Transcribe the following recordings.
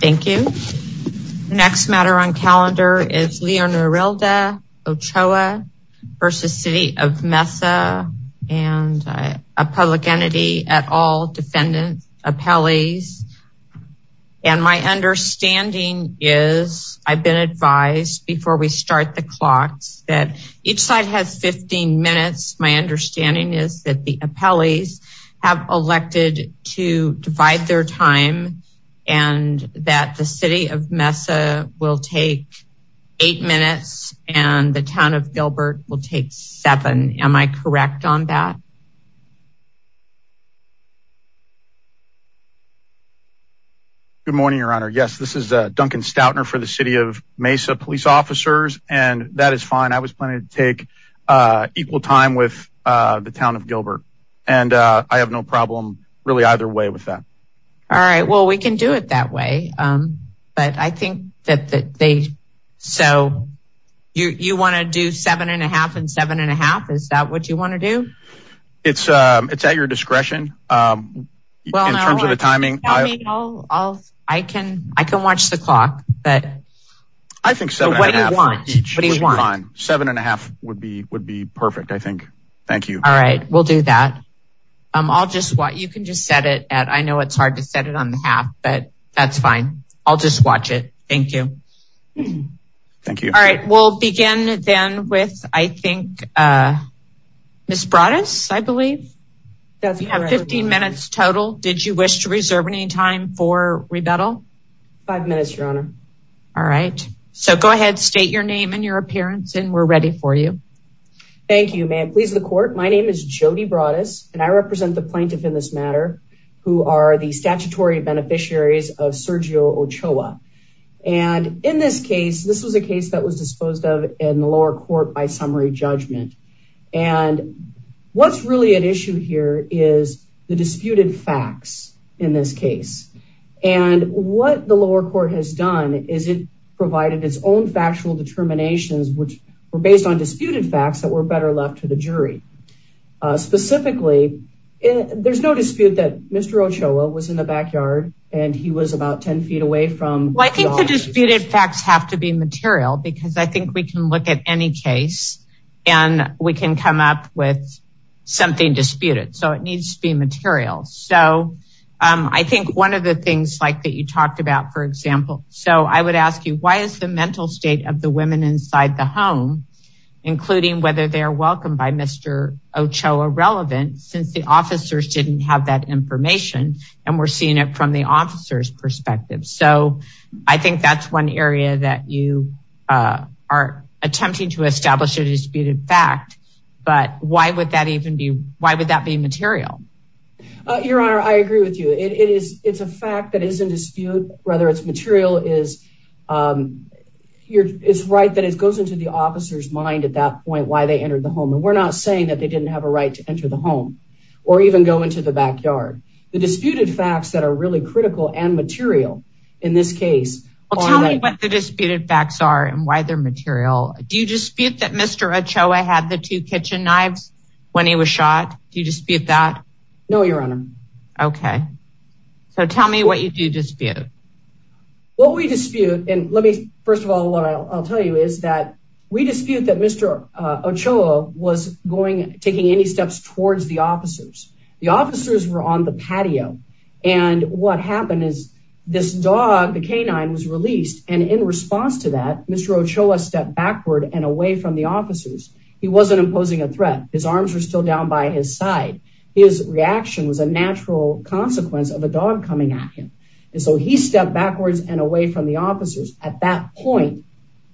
Thank you. Next matter on calendar is Leonorilda Ochoa versus City of Mesa and a public entity at all defendants, appellees. And my understanding is I've been advised before we start the clocks that each side has 15 minutes. My understanding is that the appellees have elected to divide their time and that the City of Mesa will take eight minutes and the Town of Gilbert will take seven. Am I correct on that? Duncan Stoutner Good morning, Your Honor. Yes, this is Duncan Stoutner for the City of Mesa police officers. And that is fine. I was planning to take equal time with the Town of Gilbert. And I have no problem really either way with that. All right. Well, we can do it that way. But I think that they so you want to do seven and a half and seven and a half. Is that what you want to do? It's it's at your discretion. Well, in terms of the timing, I'll I'll I can I can watch the clock. But I think so. What do you want each one? Seven and a half would be would be perfect. I think. Thank you. All right. We'll do that. I'll just what you can just set it at. I know it's hard to set it on the half, but that's fine. I'll just watch it. Thank you. Thank you. All right. We'll begin then with I think Miss Broaddus, I believe you have 15 minutes total. Did you wish to reserve any time for rebuttal? Five minutes, Your Honor. All right. So go ahead. State your name and your appearance and we're ready for you. Thank you. May it please the court. My name is Jody Broaddus and I represent the plaintiff in this matter who are the statutory beneficiaries of Sergio Ochoa. And in this case, this was a case that was disposed of in the lower court by summary judgment. And what's really at issue here is the disputed facts in this case. And what the lower court has done is it provided its own factual determinations, which were based on disputed facts that were better left to the jury. Specifically, there's no dispute that Mr. Ochoa was in the backyard and he was about 10 feet away from. Well, I think the disputed facts have to be material because I think we can look at any case and we can come up with something disputed. So it needs to be material. So I think one of the things like that you talked about, for example, so I would ask you, why is the mental state of the women inside the home, including whether they are welcomed by Mr. Ochoa relevant since the officers didn't have that information and we're seeing it from the officer's perspective. So I think that's one area that you are attempting to establish a disputed fact. But why would that even be? Why would that be material? Your Honor, I agree with you. It's a fact that is in dispute, whether it's material is here. It's right that it goes into the officer's mind at that point why they entered the home. And we're not saying that they didn't have a right to enter the home or even go into the backyard. The disputed facts that are really critical and material in this case. Tell me what the disputed facts are and why they're material. Do you dispute that Mr. Ochoa had the two kitchen knives when he was shot? Do you dispute that? No, Your Honor. Okay. So tell me what you do dispute. What we dispute and let me first of all, what I'll tell you is that we dispute that Mr. Ochoa was going taking any steps towards the officers. The officers were on the patio. And what happened is this dog, the canine was released. And in response to that, Mr. Ochoa stepped backward and away from the officers. He wasn't imposing a threat. His arms were still down by his side. His reaction was a natural consequence of a dog coming at him. And so he stepped backwards and away from the officers at that point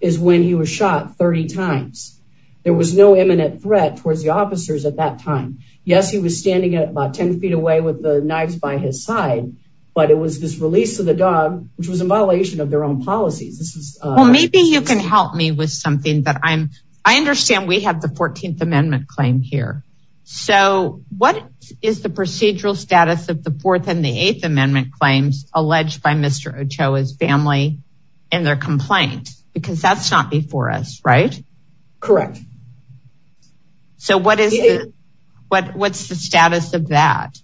is when he was shot 30 times. There was no imminent threat towards the officers at that time. Yes, he was standing at about 10 feet away with the knives by his side. But it was this release of the dog, which was in violation of their own policies. Well, maybe you can help me with something that I'm, I understand we have the 14th amendment claim here. So what is the procedural status of the fourth and the eighth amendment claims alleged by Mr. Ochoa's family and their complaint? Because that's not before us, right? Correct. So what is it? What's the status of that?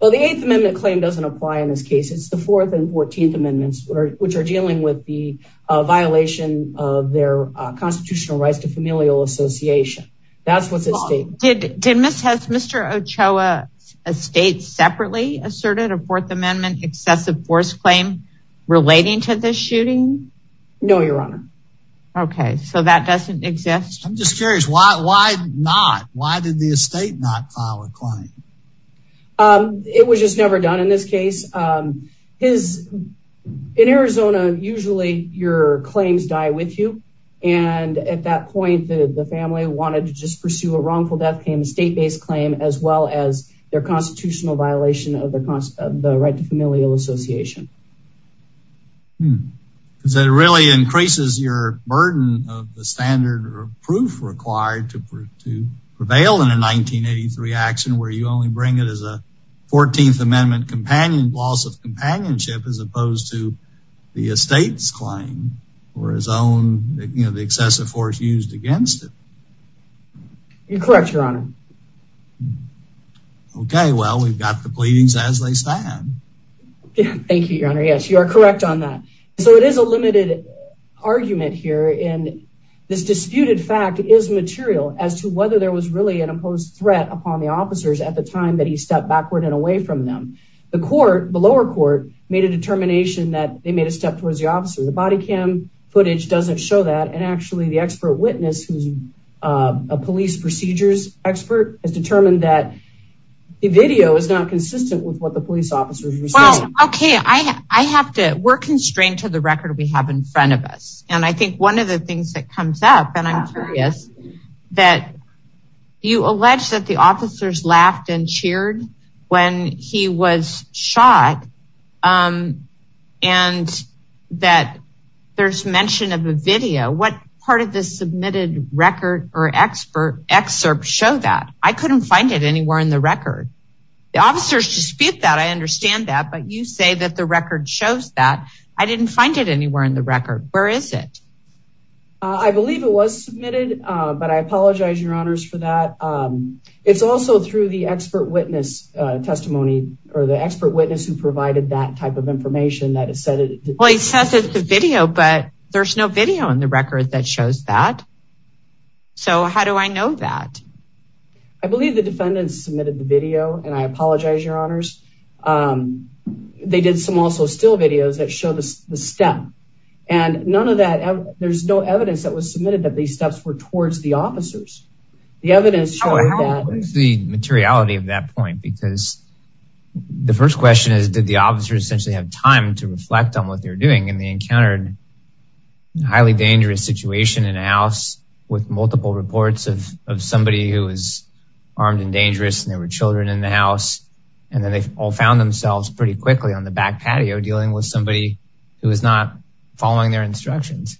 Well, the eighth amendment claim doesn't apply in this case. It's the fourth and 14th amendments, which are dealing with the violation of their constitutional rights to familial association. That's what's at stake. Did Mr. Ochoa's estate separately asserted a fourth amendment excessive force claim relating to this shooting? No, Your Honor. Okay, so that doesn't exist. I'm just curious, why not? Why did the estate not file a claim? It was just never done in this case. In Arizona, usually your claims die with you. And at that point, the family wanted to just pursue a wrongful death claim, state based claim as well as their constitutional violation of the right to familial association. Hmm. So it really increases your burden of the standard or proof required to prevail in a 1983 action where you only bring it as a 14th amendment companion loss of companionship as opposed to the estate's claim or his own, you know, the excessive force used against it. You're correct, Your Honor. Okay, well, we've got the pleadings as they stand. Yeah, Your Honor. Yes, you are correct on that. So it is a limited argument here. And this disputed fact is material as to whether there was really an imposed threat upon the officers at the time that he stepped backward and away from them. The court, the lower court made a determination that they made a step towards the officer, the body cam footage doesn't show that and actually the expert witness who's a police procedures expert has determined that the video is not consistent with what the police officers. Okay, I have to we're constrained to the record we have in front of us. And I think one of the things that comes up and I'm curious that you allege that the officers laughed and cheered when he was shot and that there's mention of a video what part of this submitted record or expert excerpt show that I couldn't find it anywhere in the record. The officers dispute that I understand that but you say that the record shows that I didn't find it anywhere in the record. Where is it? I believe it was submitted. But I apologize, Your Honors for that. It's also through the expert witness testimony, or the expert witness who provided that type of information that is said it says it's the video, but there's no video in the record that shows that. So how do I know that? I believe the defendants submitted the video and I apologize, Your Honors. They did some also still videos that show this step. And none of that. There's no evidence that was submitted that these steps were towards the officers. The evidence showing that the materiality of that point because the first question is did the officer essentially have time to reflect on what they're doing and they encountered highly dangerous situation in a house with multiple reports of somebody who is armed and dangerous and there were children in the house. And then they all found themselves pretty quickly on the back patio dealing with somebody who is not following their instructions.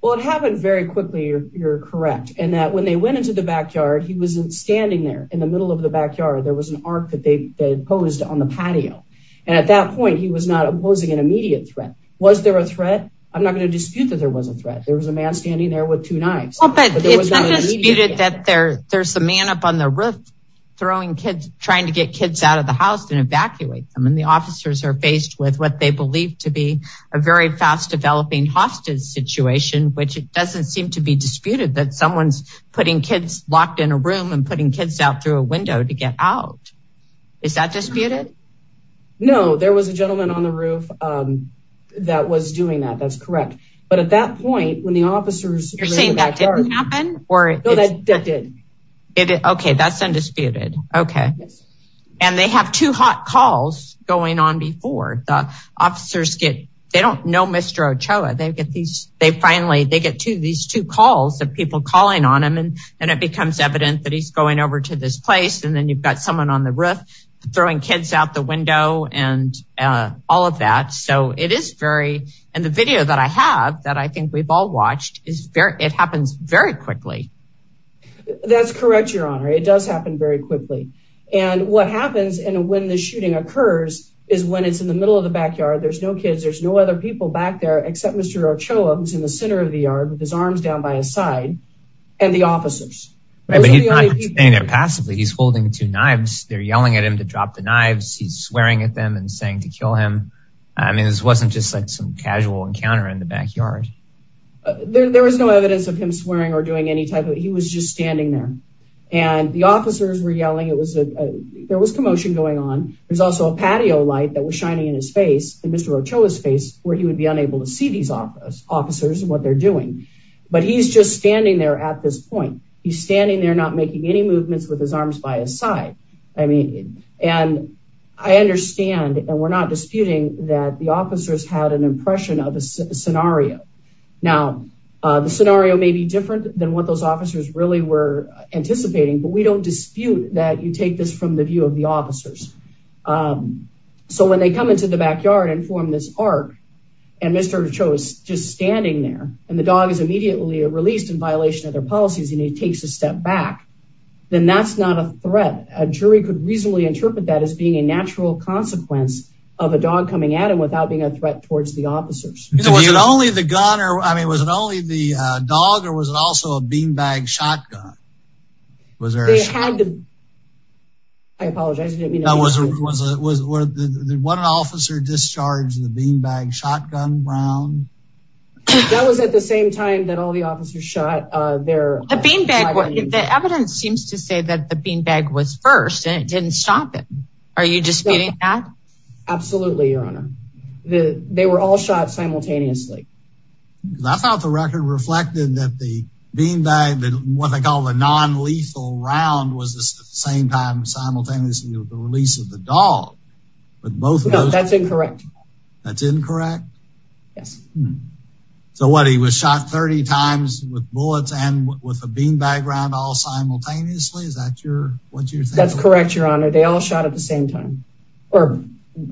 Well, it happened very quickly. You're correct. And that when they went into the backyard, he wasn't standing there in the middle of the backyard. There was an arc that they posed on the patio. And at that point, he was not opposing an immediate threat. Was there a man standing there with two knives? Well, but it's not disputed that there's a man up on the roof throwing kids trying to get kids out of the house and evacuate them. And the officers are faced with what they believe to be a very fast developing hostage situation, which doesn't seem to be disputed that someone's putting kids locked in a room and putting kids out through a window to get out. Is that disputed? No, there was a gentleman on the roof that was doing that. That's correct. But at that point, when the officers... You're saying that didn't happen? No, that did. Okay, that's undisputed. Okay. And they have two hot calls going on before the officers get, they don't know Mr. Ochoa. They finally, they get to these two calls of people calling on him. And then it becomes evident that he's going over to this place. And then you've got someone on the roof, throwing kids out the window and all of that. So it is very, and the video that I have that I think we've all watched is very, it happens very quickly. That's correct, Your Honor. It does happen very quickly. And what happens and when the shooting occurs is when it's in the middle of the backyard, there's no kids, there's no other people back there except Mr. Ochoa, who's in the center of the yard with his arms down by his side, and the officers. He's holding two knives, they're yelling at him to drop the knives, he's swearing at them and saying to kill him. I mean, this wasn't just like some casual encounter in the backyard. There was no evidence of him swearing or doing any type of, he was just standing there. And the officers were yelling, it was a, there was commotion going on. There's also a patio light that was shining in his face, in Mr. Ochoa's face, where he would be unable to see these officers and what they're doing. But he's just standing there at this point. He's standing there making any movements with his arms by his side. I mean, and I understand, and we're not disputing that the officers had an impression of a scenario. Now, the scenario may be different than what those officers really were anticipating, but we don't dispute that you take this from the view of the officers. So when they come into the backyard and form this arc, and Mr. Ochoa is just standing there, and the dog is immediately released in violation of their policies and he takes a step back, then that's not a threat. A jury could reasonably interpret that as being a natural consequence of a dog coming at him without being a threat towards the officers. Was it only the gun or, I mean, was it only the dog or was it also a beanbag shotgun? Was there a shotgun? They had to, I apologize, I didn't mean to- No, was it, was it, was, what, an officer discharged the beanbag shotgun round? That was at the same time that all the officers shot their- The evidence seems to say that the beanbag was first and it didn't stop him. Are you disputing that? Absolutely, your honor. They were all shot simultaneously. I thought the record reflected that the beanbag, what they call the non-lethal round, was the same time simultaneously with the release of the dog, but both- That's incorrect. That's incorrect? Yes. So what, he was shot 30 times with bullets and with a beanbag round all simultaneously? Is that your, what's your- That's correct, your honor. They all shot at the same time, or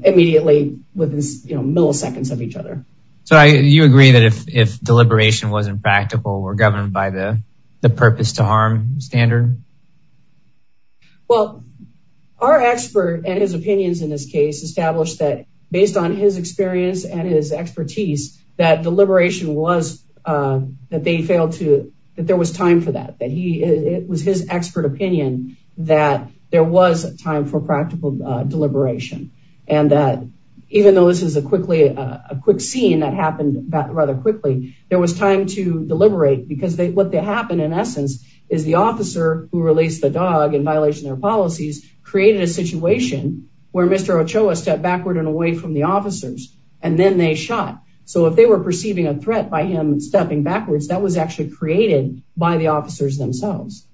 immediately within milliseconds of each other. So you agree that if deliberation wasn't practical, we're governed by the purpose to harm standard? Well, our expert and his opinions in this case established that based on his experience and his that deliberation was, that they failed to, that there was time for that. That he, it was his expert opinion that there was time for practical deliberation. And that even though this is a quickly, a quick scene that happened rather quickly, there was time to deliberate because what happened in essence is the officer who released the dog in violation of their policies created a situation where Mr. Ochoa stepped backward and away from the officers, and then they shot. So if they were perceiving a threat by him stepping backwards, that was actually created by the officers themselves.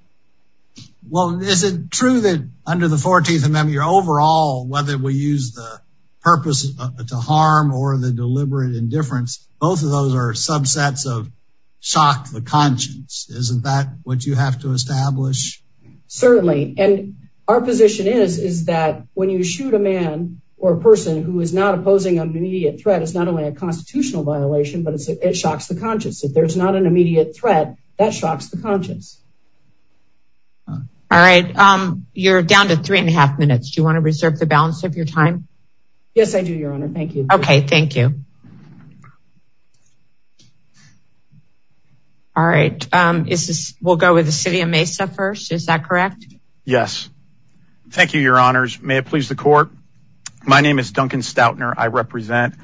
Well, is it true that under the 14th Amendment, your overall, whether we use the purpose to harm or the deliberate indifference, both of those are subsets of shock to the conscience. Isn't that what you have to establish? Certainly, and our position is, is that when you shoot a man or a person who is not opposing an immediate threat, it's not only a constitutional violation, but it shocks the conscience. If there's not an immediate threat, that shocks the conscience. All right. You're down to three and a half minutes. Do you want to reserve the balance of your time? Yes, I do, Your Honor. Thank you. Okay. Thank you. All right. We'll go with the city of Mesa first. Is that correct? Yes. Thank you, Your Honors. May it please the court. My name is Duncan Stoutner. I represent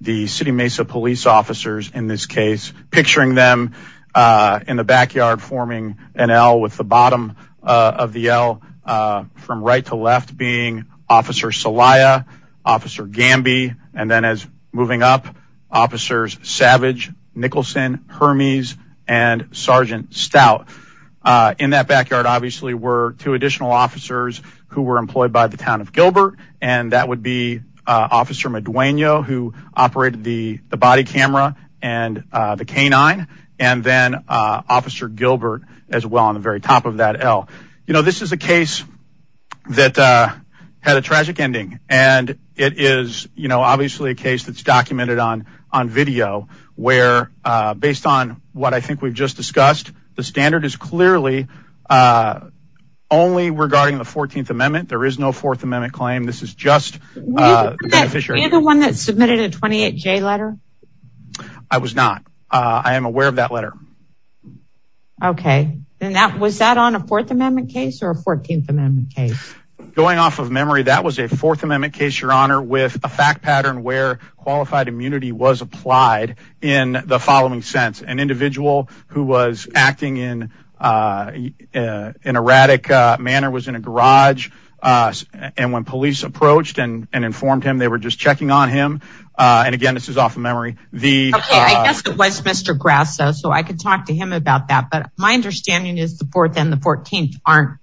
the city Mesa police officers in this case, picturing them in the backyard forming an L with the bottom of the L from right to left being Officer Salaya, Officer Gamby, and then as moving up, Officers Savage, Nicholson, Hermes, and Sergeant Stout. In that backyard, obviously, were two additional officers who were employed by the town of Gilbert, and that would be Officer Madueño who operated the body camera and the canine, and then Officer Gilbert as well on the very top of that L. You know, this is a case that had a tragic ending, and it is obviously a case that's documented on video where based on what I think we've just discussed, the standard is clearly only regarding the 14th Amendment. There is no 4th Amendment claim. This is just beneficiary. Were you the one that submitted a 28J letter? I was not. I am aware of that letter. Okay. And was that on a 4th Amendment case or a 14th Amendment case? Going off of memory, that was a 4th Amendment case, Your Honor, with a fact pattern where qualified immunity was applied in the following sense. An individual who was acting in an erratic manner was in a garage, and when police approached and informed him, they were just checking on him. And again, this is off of memory. Okay, I guess it was Mr. Grasso, so I could talk to him about that, but my understanding is the 4th and the 14th aren't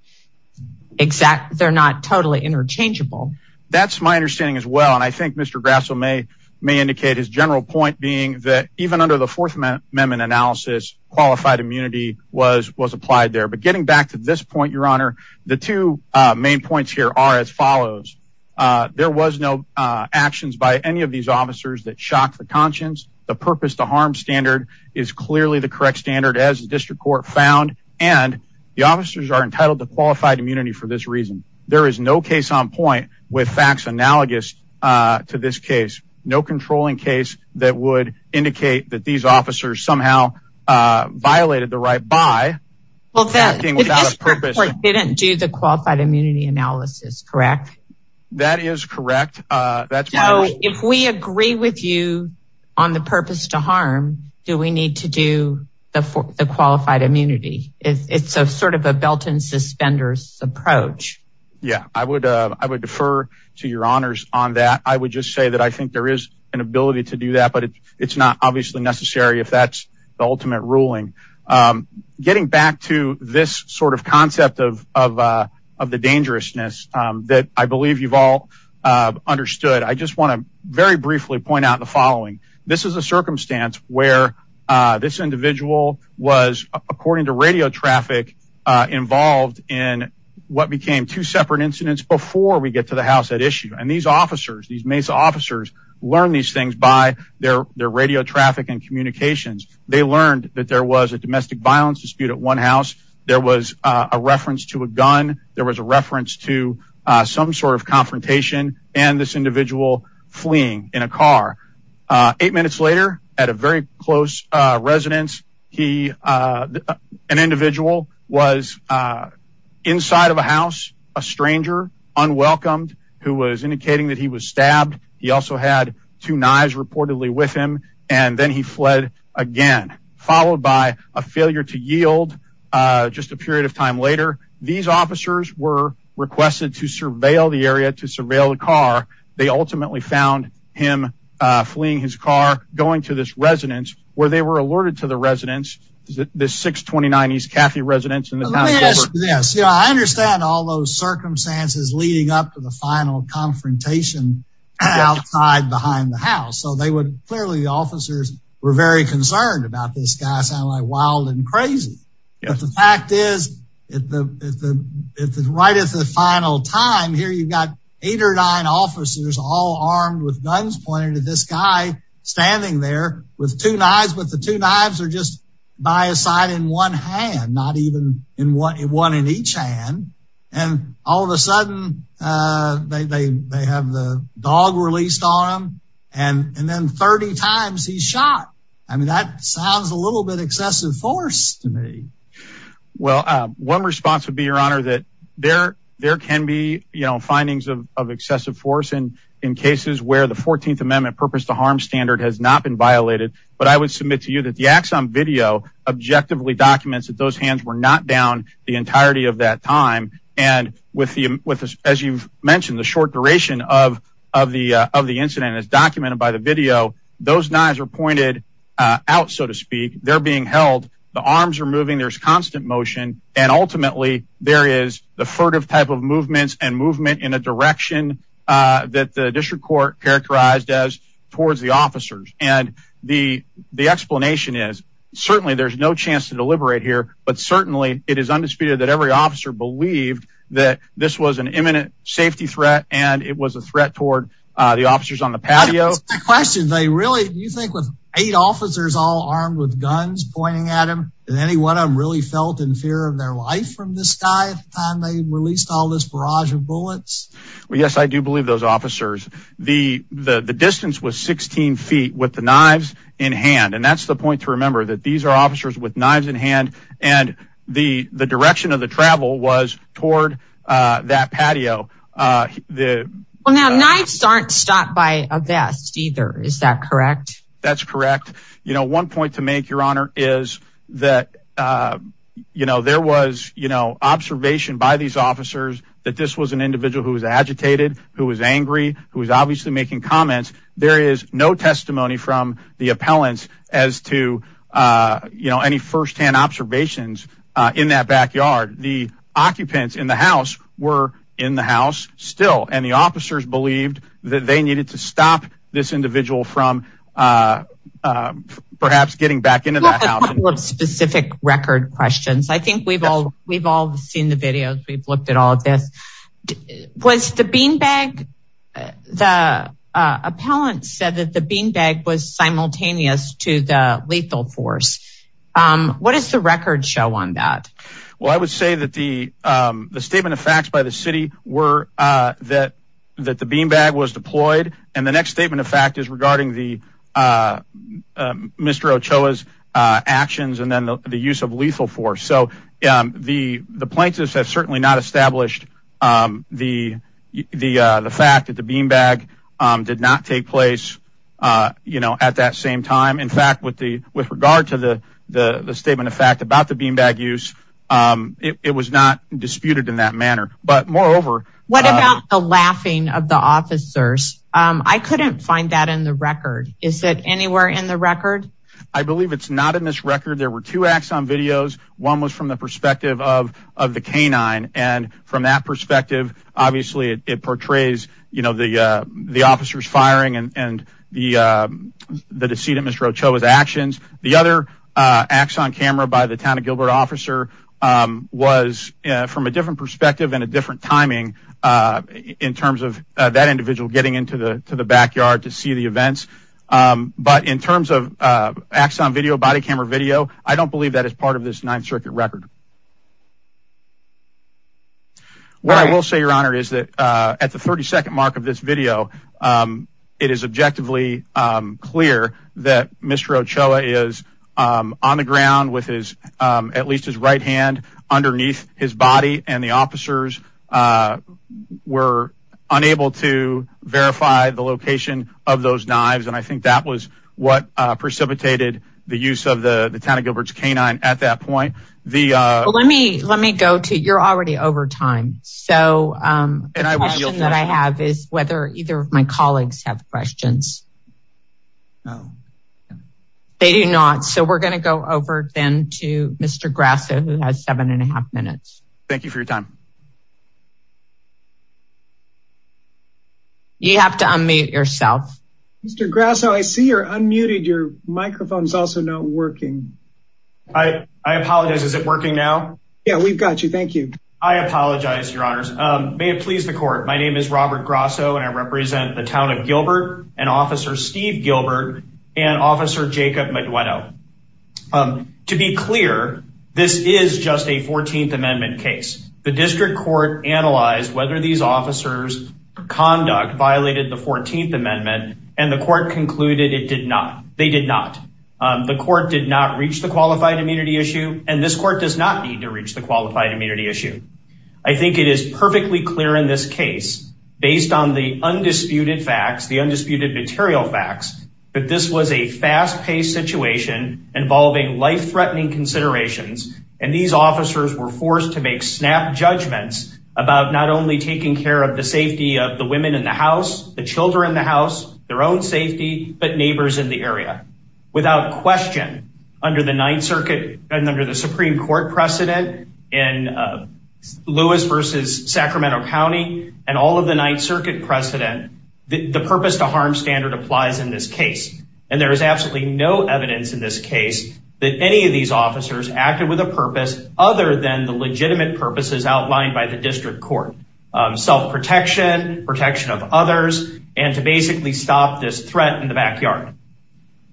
exact. They're not totally interchangeable. That's my understanding as well, and I think Mr. Grasso may indicate his general point being that even under the 4th Amendment analysis, qualified immunity was applied there. But getting back to this point, Your Honor, the two main points here are as follows. There was no actions by any of these officers that shocked the conscience. The purpose to harm standard is clearly the correct standard, as the District Court found, and the officers are entitled to qualified immunity for this reason. There is no case on point with facts analogous to this case. No controlling case that would indicate that these officers somehow violated the right by acting without a purpose. The District Court didn't do the qualified immunity analysis, correct? That is correct. If we agree with you on the purpose to harm, do we need to do the qualified immunity? It's sort of a belt and suspenders approach. Yeah, I would defer to Your Honors on that. I would just say that I think there is an ability to do that, but it's not obviously necessary if that's the ultimate ruling. Getting back to this sort of concept of the dangerousness that I believe you've all understood, I just want to very briefly point out the following. This is a circumstance where this individual was, according to radio traffic, involved in what became two separate incidents before we get to the house at issue. And these officers, these Mesa officers, learn these things by their radio traffic and communications. They learned that there was a domestic violence dispute at one house. There was a reference to a gun. There was a reference to some sort of confrontation and this individual fleeing in a car. Eight minutes later, at a very close residence, an individual was inside of a house, a stranger, unwelcomed, who was indicating that he was stabbed. He also had two knives reportedly with him. And then he fled again, followed by a failure to yield just a period of time later. These officers were requested to surveil the area, to surveil the car. They ultimately found him fleeing his car, going to this residence, where they were alerted to the residence. Is it this 629 East Caffey residence? Yes, I understand all those circumstances leading up to the final confrontation outside behind the house. So clearly the officers were very concerned about this guy. Sounded like wild and crazy. But the fact is, right at the final time, here you've got eight or nine officers all armed with guns pointed at this guy standing there with two knives. But the two knives are just by a side in one hand, not even one in each hand. And all of a sudden they have the dog released on him. And then 30 times he's shot. I mean, that sounds a little bit excessive force to me. Well, one response would be, Your Honor, that there can be findings of excessive force in cases where the 14th Amendment purpose to harm standard has not been violated. But I would submit to you that the axon video objectively documents that those hands were not down the entirety of that time. And as you've mentioned, the short duration of the incident is documented by the video. Those knives are pointed out, so to speak. They're being held. The arms are moving. There's constant motion. And ultimately there is the furtive type of movements and movement in a direction that the district court characterized as towards the officers. And the explanation is, certainly there's no chance to deliberate here. But certainly it is undisputed that every officer believed that this was an imminent safety threat. And it was a threat toward the officers on the patio. That's my question. They really, do you think with eight officers all armed with guns pointing at him, did any one of them really felt in fear of their life from this guy at the time they released all this barrage of bullets? Well, yes, I do believe those officers. The distance was 16 feet with the knives in hand. And that's the point to remember, that these are officers with knives in hand and the direction of the travel was toward that patio. Well, now knives aren't stopped by a vest either. Is that correct? That's correct. You know, one point to make your honor is that, you know, there was, you know, observation by these officers that this was an individual who was agitated, who was angry, who was obviously making comments. There is no testimony from the appellants as to, you know, any firsthand observations in that backyard. The occupants in the house were in the house still. And the officers believed that they needed to stop this individual from perhaps getting back into that house. We have a couple of specific record questions. I think we've all seen the videos. We've looked at all of this. Was the beanbag, the appellant said that the beanbag was simultaneous to the lethal force. What does the record show on that? Well, I would say that the statement of facts by the city were that the beanbag was deployed. And the next statement of fact is regarding Mr. Ochoa's actions and then the use of lethal force. So the plaintiffs have certainly not established the fact that the beanbag did not take place at that same time. In fact, with regard to the statement of fact about the beanbag use, it was not disputed in that manner. But moreover- What about the laughing of the officers? I couldn't find that in the record. Is it anywhere in the record? I believe it's not in this record. There were two acts on videos. One was from the perspective of the canine. And from that perspective, obviously it portrays the officers firing and the deceit of Mr. Ochoa's actions. The other acts on camera by the town of Gilbert officer was from a different perspective and a different timing in terms of that individual getting into the backyard to see the events. But in terms of acts on video, body camera video, I don't believe that is part of this Ninth Circuit record. What I will say, Your Honor, is that at the 32nd mark of this video, it is objectively clear that Mr. Ochoa is on the ground with at least his right hand underneath his body. And the officers were unable to verify the location of those knives. And I think that was what precipitated the use of the town of Gilbert's canine at that point. Let me go to, you're already over time. So the question that I have is whether either of my colleagues have questions. No. They do not. So we're gonna go over then to Mr. Grasso who has seven and a half minutes. Thank you for your time. You have to unmute yourself. Mr. Grasso, I see you're unmuted. Your microphone's also not working. I apologize. Is it working now? Yeah, we've got you. Thank you. I apologize, Your Honors. May it please the court, my name is Robert Grasso and I represent the town of Gilbert and Officer Steve Gilbert and Officer Jacob Madueno. To be clear, this is just a 14th Amendment case. The district court analyzed whether these officers' conduct violated the 14th Amendment and the court concluded it did not. They did not. The court did not reach the qualified immunity issue and this court does not need to reach the qualified immunity issue. I think it is perfectly clear in this case, based on the undisputed facts, the undisputed material facts, that this was a fast-paced situation involving life-threatening considerations and these officers were forced to make snap judgments about not only taking care of the safety of the women in the house, the children in the house, their own safety, but neighbors in the area. Without question, under the Ninth Circuit and under the Supreme Court precedent in Lewis versus Sacramento County and all of the Ninth Circuit precedent, the purpose to harm standard applies in this case. And there is absolutely no evidence in this case that any of these officers acted with a purpose other than the legitimate purposes outlined by the district court. Self-protection, protection of others, and to basically stop this threat in the backyard.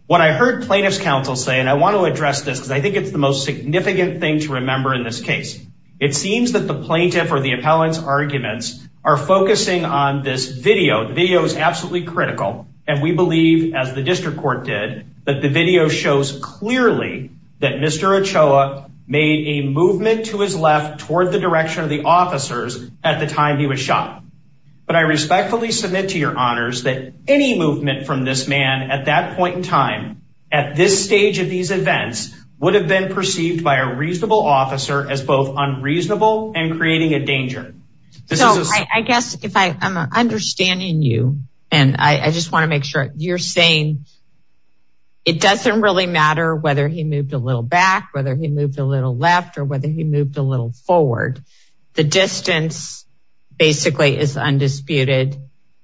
What I heard plaintiff's counsel say, and I want to address this because I think it's the most significant thing to remember in this case, it seems that the plaintiff or the appellant's arguments are focusing on this video. The video is absolutely critical and we believe, as the district court did, that the video shows clearly that Mr. Ochoa made a movement to his left toward the direction of the officers at the time he was shot. But I respectfully submit to your honors that any movement from this man at that point in time, at this stage of these events, would have been perceived by a reasonable officer as both unreasonable and creating a danger. So I guess if I'm understanding you, and I just want to make sure you're saying, it doesn't really matter whether he moved a little back, whether he moved a little left, or whether he moved a little forward. The distance basically is undisputed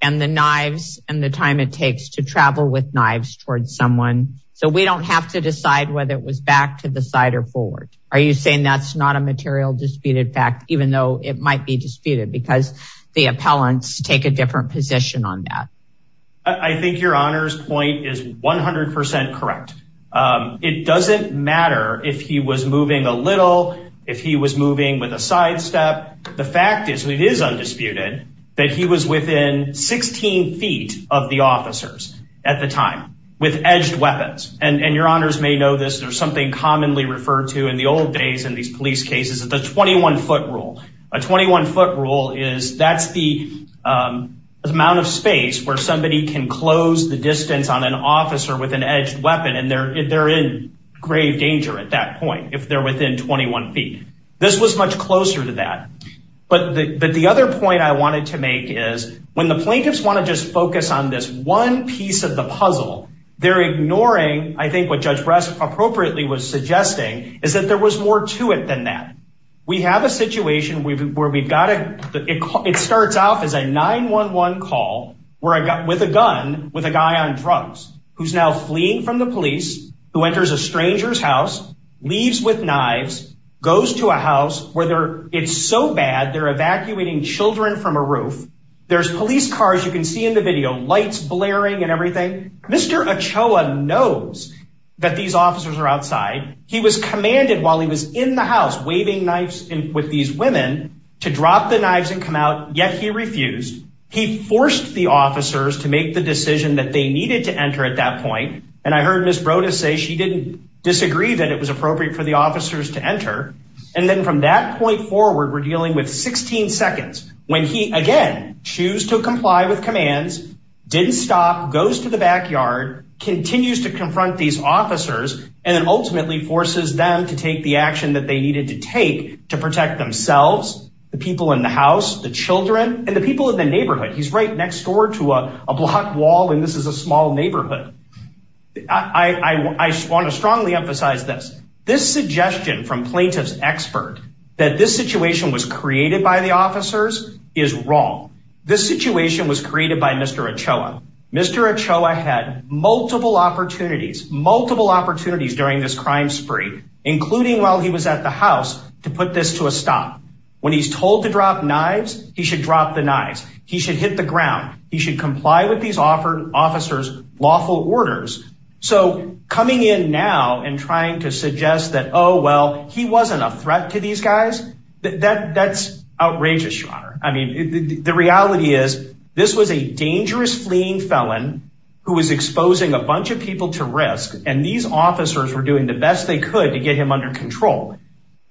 and the knives and the time it takes to travel with knives towards someone. So we don't have to decide whether it was back to the side or forward. Are you saying that's not a material disputed fact, even though it might be disputed because the appellants take a different position on that? I think your honors point is 100% correct. It doesn't matter if he was moving a little, if he was moving with a sidestep. The fact is it is undisputed that he was within 16 feet of the officers at the time with edged weapons. And your honors may know this, there's something commonly referred to in the old days in these police cases, the 21 foot rule. A 21 foot rule is that's the amount of space where somebody can close the distance on an officer with an edged weapon. And they're in grave danger at that point if they're within 21 feet. This was much closer to that. But the other point I wanted to make is when the plaintiffs wanna just focus on this one piece of the puzzle, they're ignoring, I think what Judge Bress appropriately was suggesting is that there was more to it than that. We have a situation where we've got, it starts off as a 911 call with a gun, with a guy on drugs, who's now fleeing from the police, who enters a stranger's house, leaves with knives, goes to a house where it's so bad, they're evacuating children from a roof. There's police cars, you can see in the video, lights blaring and everything. Mr. Ochoa knows that these officers are outside. He was commanded while he was in the house, waving knives with these women to drop the knives and come out, yet he refused. He forced the officers to make the decision that they needed to enter at that point. And I heard Ms. Brodess say she didn't disagree that it was appropriate for the officers to enter. And then from that point forward, we're dealing with 16 seconds when he, again, choose to comply with commands, didn't stop, goes to the backyard, continues to confront these officers, and then ultimately forces them to take the action that they needed to take to protect themselves, the people in the house, the children, and the people in the neighborhood. He's right next door to a blocked wall and this is a small neighborhood. I want to strongly emphasize this. This suggestion from plaintiff's expert that this situation was created by the officers is wrong. This situation was created by Mr. Ochoa. Mr. Ochoa had multiple opportunities, multiple opportunities during this crime spree, including while he was at the house, to put this to a stop. When he's told to drop knives, he should drop the knives. He should hit the ground. He should comply with these officers' lawful orders. So coming in now and trying to suggest that, oh, well, he wasn't a threat to these guys, that's outrageous, Sean. I mean, the reality is, this was a dangerous fleeing felon who was exposing a bunch of people to risk and these officers were doing the best they could to get him under control.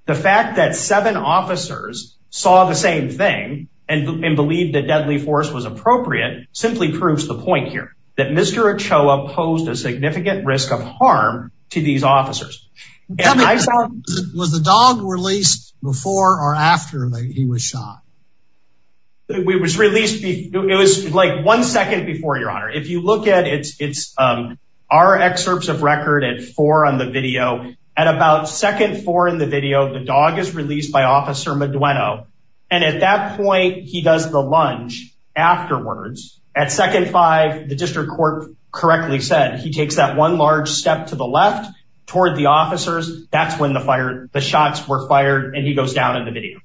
The fact that seven officers saw the same thing and believed that deadly force was appropriate simply proves the point here that Mr. Ochoa posed a significant risk of harm to these officers. Was the dog released before or after he was shot? It was like one second before, Your Honor. If you look at it, it's our excerpts of record at four on the video. At about second four in the video, the dog is released by Officer Madueno. And at that point, he does the lunge afterwards. At second five, the district court correctly said, he takes that one large step to the left toward the officers. That's when the shots were fired and he goes down in the video.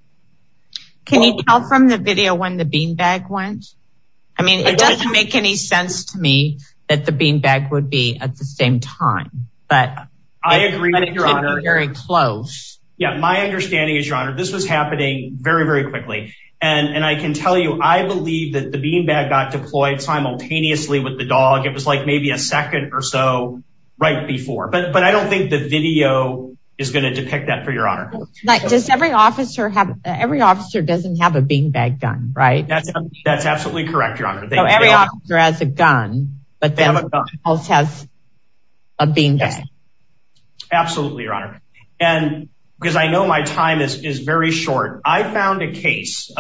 Can you tell from the video when the beanbag went? I mean, it doesn't make any sense to me that the beanbag would be at the same time, but it could be very close. Yeah, my understanding is, Your Honor, this was happening very, very quickly. And I can tell you, I believe that the beanbag got deployed simultaneously with the dog. It was like maybe a second or so right before. But I don't think the video is gonna depict that for Your Honor. Every officer doesn't have a beanbag gun, right? That's absolutely correct, Your Honor. So every officer has a gun, but then the police has a beanbag. Absolutely, Your Honor. Because I know my time is very short. I found a case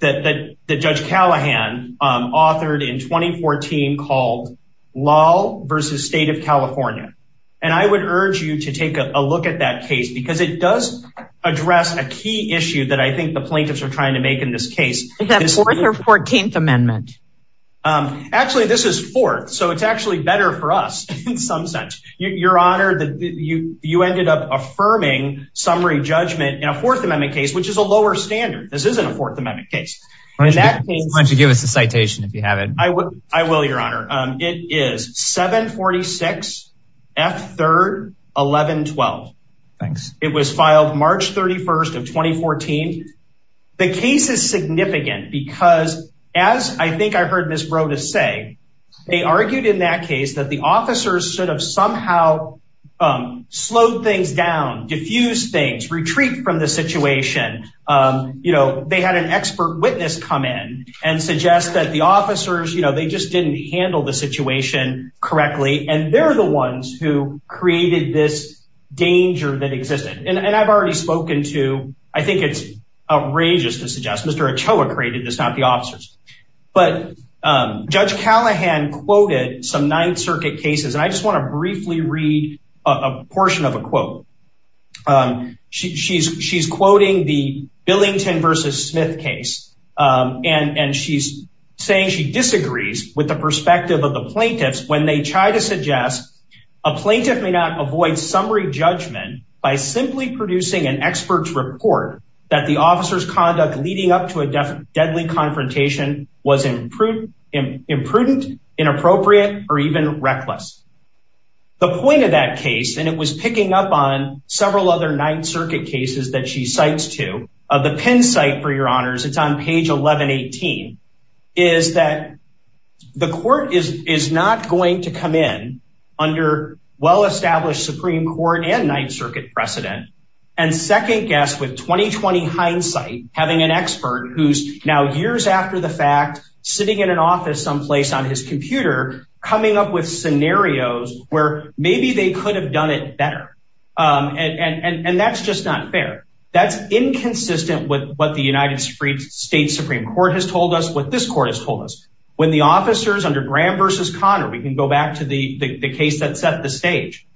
that Judge Callahan authored in 2014 called Law v. State of California. And I would urge you to take a look at that case because it does address a key issue that I think the plaintiffs are trying to make in this case. Is that Fourth or 14th Amendment? Actually, this is Fourth. So it's actually better for us in some sense. Your Honor, you ended up affirming summary judgment in a Fourth Amendment case, which is a lower standard. This isn't a Fourth Amendment case. Why don't you give us a citation if you have it? I will, Your Honor. It is 746 F. 3rd 1112. Thanks. It was filed March 31st of 2014. The case is significant because as I think I heard Ms. Broadus say, they argued in that case that the officers should have somehow slowed things down, diffused things, retreat from the situation. They had an expert witness come in and suggest that the officers, they just didn't handle the situation correctly. And they're the ones who created this danger that existed. And I've already spoken to, I think it's outrageous to suggest Mr. Ochoa created this, not the officers. But Judge Callahan quoted some Ninth Circuit cases. And I just want to briefly read a portion of a quote. She's quoting the Billington versus Smith case. And she's saying she disagrees with the perspective of the plaintiffs when they try to suggest a plaintiff may not avoid summary judgment by simply producing an expert's report that the officer's conduct leading up to a deadly confrontation was imprudent, inappropriate, or even reckless. The point of that case, and it was picking up on several other Ninth Circuit cases that she cites too, of the Penn site, for your honors, it's on page 1118, is that the court is not going to come in under well-established Supreme Court and Ninth Circuit precedent. And second guess with 2020 hindsight, having an expert who's now years after the fact, sitting in an office someplace on his computer, coming up with scenarios where maybe they could have done it better. And that's just not fair. That's inconsistent with what the United States Supreme Court has told us, what this court has told us. When the officers under Graham versus Conner, we can go back to the case that set the stage,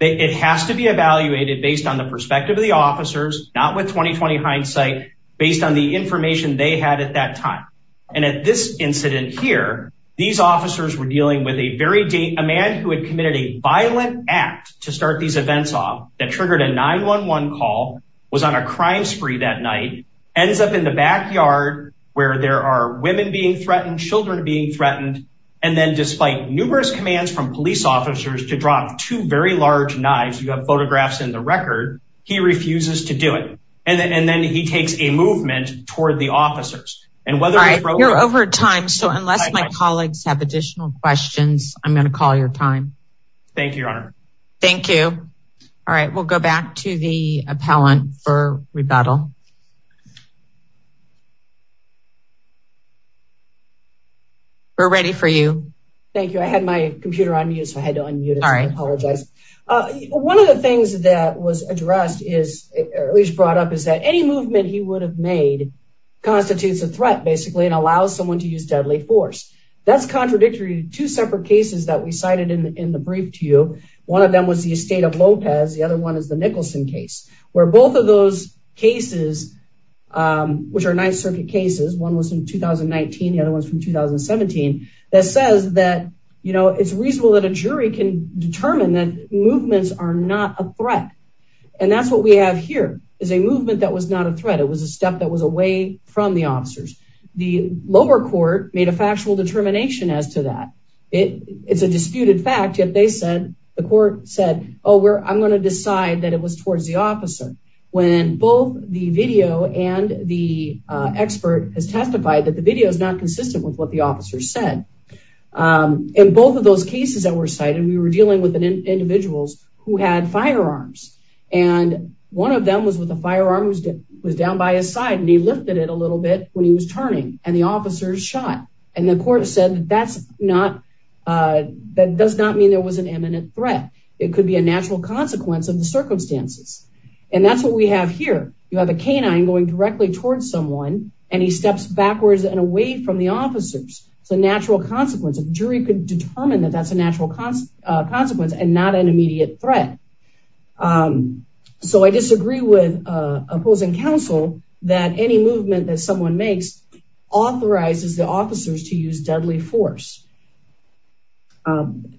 it has to be evaluated based on the perspective of the officers, not with 2020 hindsight, based on the information they had at that time. And at this incident here, these officers were dealing with a man who had committed a violent act to start these events off that triggered a 911 call, was on a crime spree that night, ends up in the backyard where there are women being threatened, children being threatened. And then despite numerous commands from police officers to drop two very large knives, you have photographs in the record, he refuses to do it. And then he takes a movement toward the officers. And whether- All right, you're over time. So unless my colleagues have additional questions, I'm going to call your time. Thank you, Your Honor. Thank you. All right, we'll go back to the appellant for rebuttal. We're ready for you. Thank you. I had my computer on mute, so I had to unmute it. I apologize. One of the things that was addressed is at least brought up is that any movement he would have made constitutes a threat basically and allows someone to use deadly force. That's contradictory to two separate cases that we cited in the brief to you. One of them was the Estate of Lopez. The other one is the Nicholson case where both of those cases, which are Ninth Circuit cases, one was in 2019, the other one's from 2017, that says that it's reasonable that a jury can determine that movements are not a threat. And that's what we have here is a movement that was not a threat. It was a step that was away from the officers. The lower court made a factual determination as to that. It's a disputed fact, yet the court said, oh, I'm going to decide that it was towards the officer. When both the video and the expert has testified that the video is not consistent with what the officer said. In both of those cases that were cited, we were dealing with individuals who had firearms. And one of them was with a firearm who was down by his side and he lifted it a little bit when he was turning and the officers shot. And the court said that's not, that does not mean there was an imminent threat. It could be a natural consequence of the circumstances. And that's what we have here. You have a canine going directly towards someone and he steps backwards and away from the officers. It's a natural consequence. A jury could determine that that's a natural consequence and not an immediate threat. So I disagree with opposing counsel that any movement that someone makes authorizes the officers to use deadly force. And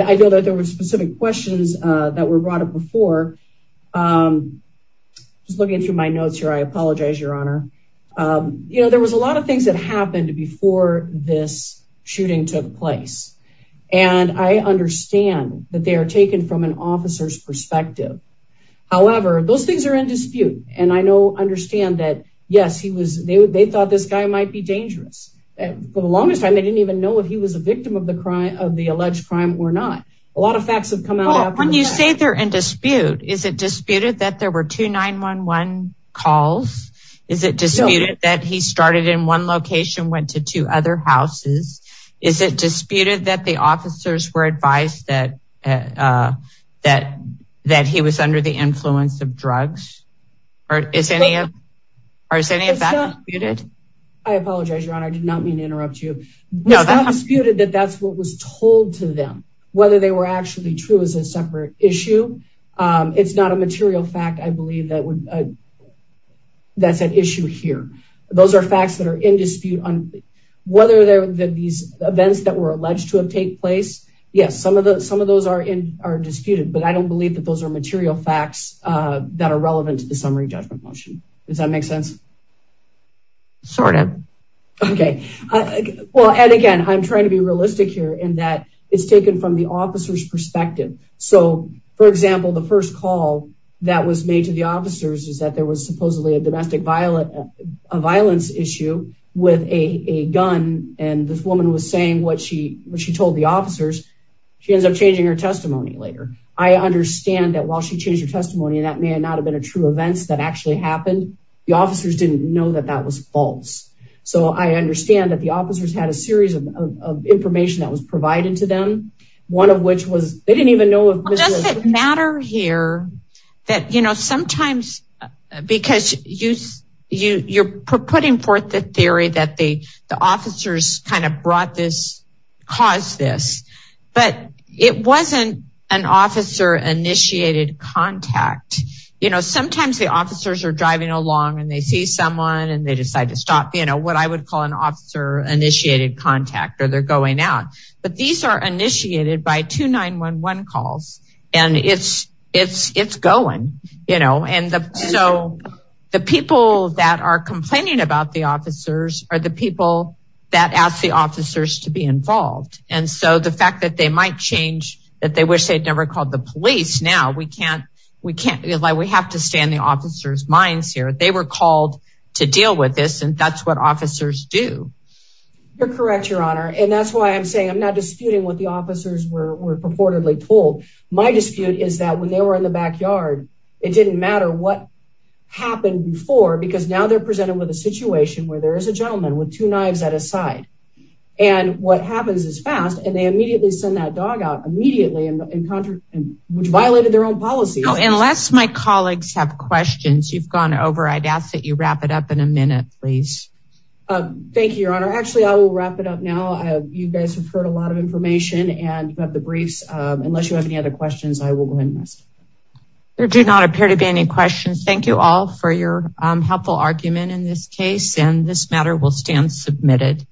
I know that there were specific questions that were brought up before. Just looking through my notes here, I apologize, Your Honor. You know, there was a lot of things that happened before this shooting took place. And I understand that they are taken from an officer's perspective. However, those things are in dispute. And I know, understand that, yes, he was, they thought this guy might be dangerous. For the longest time, they didn't even know if he was a victim of the crime, of the alleged crime or not. A lot of facts have come out. When you say they're in dispute, is it disputed that there were two 911 calls? Is it disputed that he started in one location, went to two other houses? Is it disputed that the officers were advised that he was under the influence of drugs? Or is any of that disputed? I apologize, Your Honor. I did not mean to interrupt you. It's not disputed that that's what was told to them. Whether they were actually true is a separate issue. It's not a material fact, I believe that would, that's an issue here. Those are facts that are in dispute. Whether these events that were alleged to have take place, yes, some of those are disputed. But I don't believe that those are material facts that are relevant to the summary judgment motion. Does that make sense? Sort of. Okay. Well, and again, I'm trying to be realistic here in that it's taken from the officer's perspective. So for example, the first call that was made to the officers is that there was supposedly a domestic violence issue with a gun. And this woman was saying what she told the officers. She ends up changing her testimony later. I understand that while she changed her testimony, that may not have been a true events that actually happened. The officers didn't know that that was false. So I understand that the officers had a series of information that was provided to them. One of which was, they didn't even know- Does it matter here that sometimes, because you're putting forth the theory that the officers kind of brought this, caused this, but it wasn't an officer initiated contact. Sometimes the officers are driving along and they see someone and they decide to stop, what I would call an officer initiated contact or they're going out. But these are initiated by two 911 calls. And it's going. And so the people that are complaining about the officers are the people that ask the officers to be involved. And so the fact that they might change, that they wish they'd never called the police. Now we can't, we can't, we have to stay in the officer's minds here. They were called to deal with this and that's what officers do. You're correct, your honor. And that's why I'm saying I'm not disputing what the officers were purportedly told. My dispute is that when they were in the backyard, it didn't matter what happened before, because now they're presented with a situation where there is a gentleman with two knives at a side. And what happens is fast and they immediately send that dog out immediately and which violated their own policy. Unless my colleagues have questions, you've gone over, I'd ask that you wrap it up in a minute, please. Thank you, your honor. Actually, I will wrap it up now. You guys have heard a lot of information and you have the briefs. Unless you have any other questions, I will go ahead and rest. There do not appear to be any questions. Thank you all for your helpful argument in this case. And this matter will stand submitted.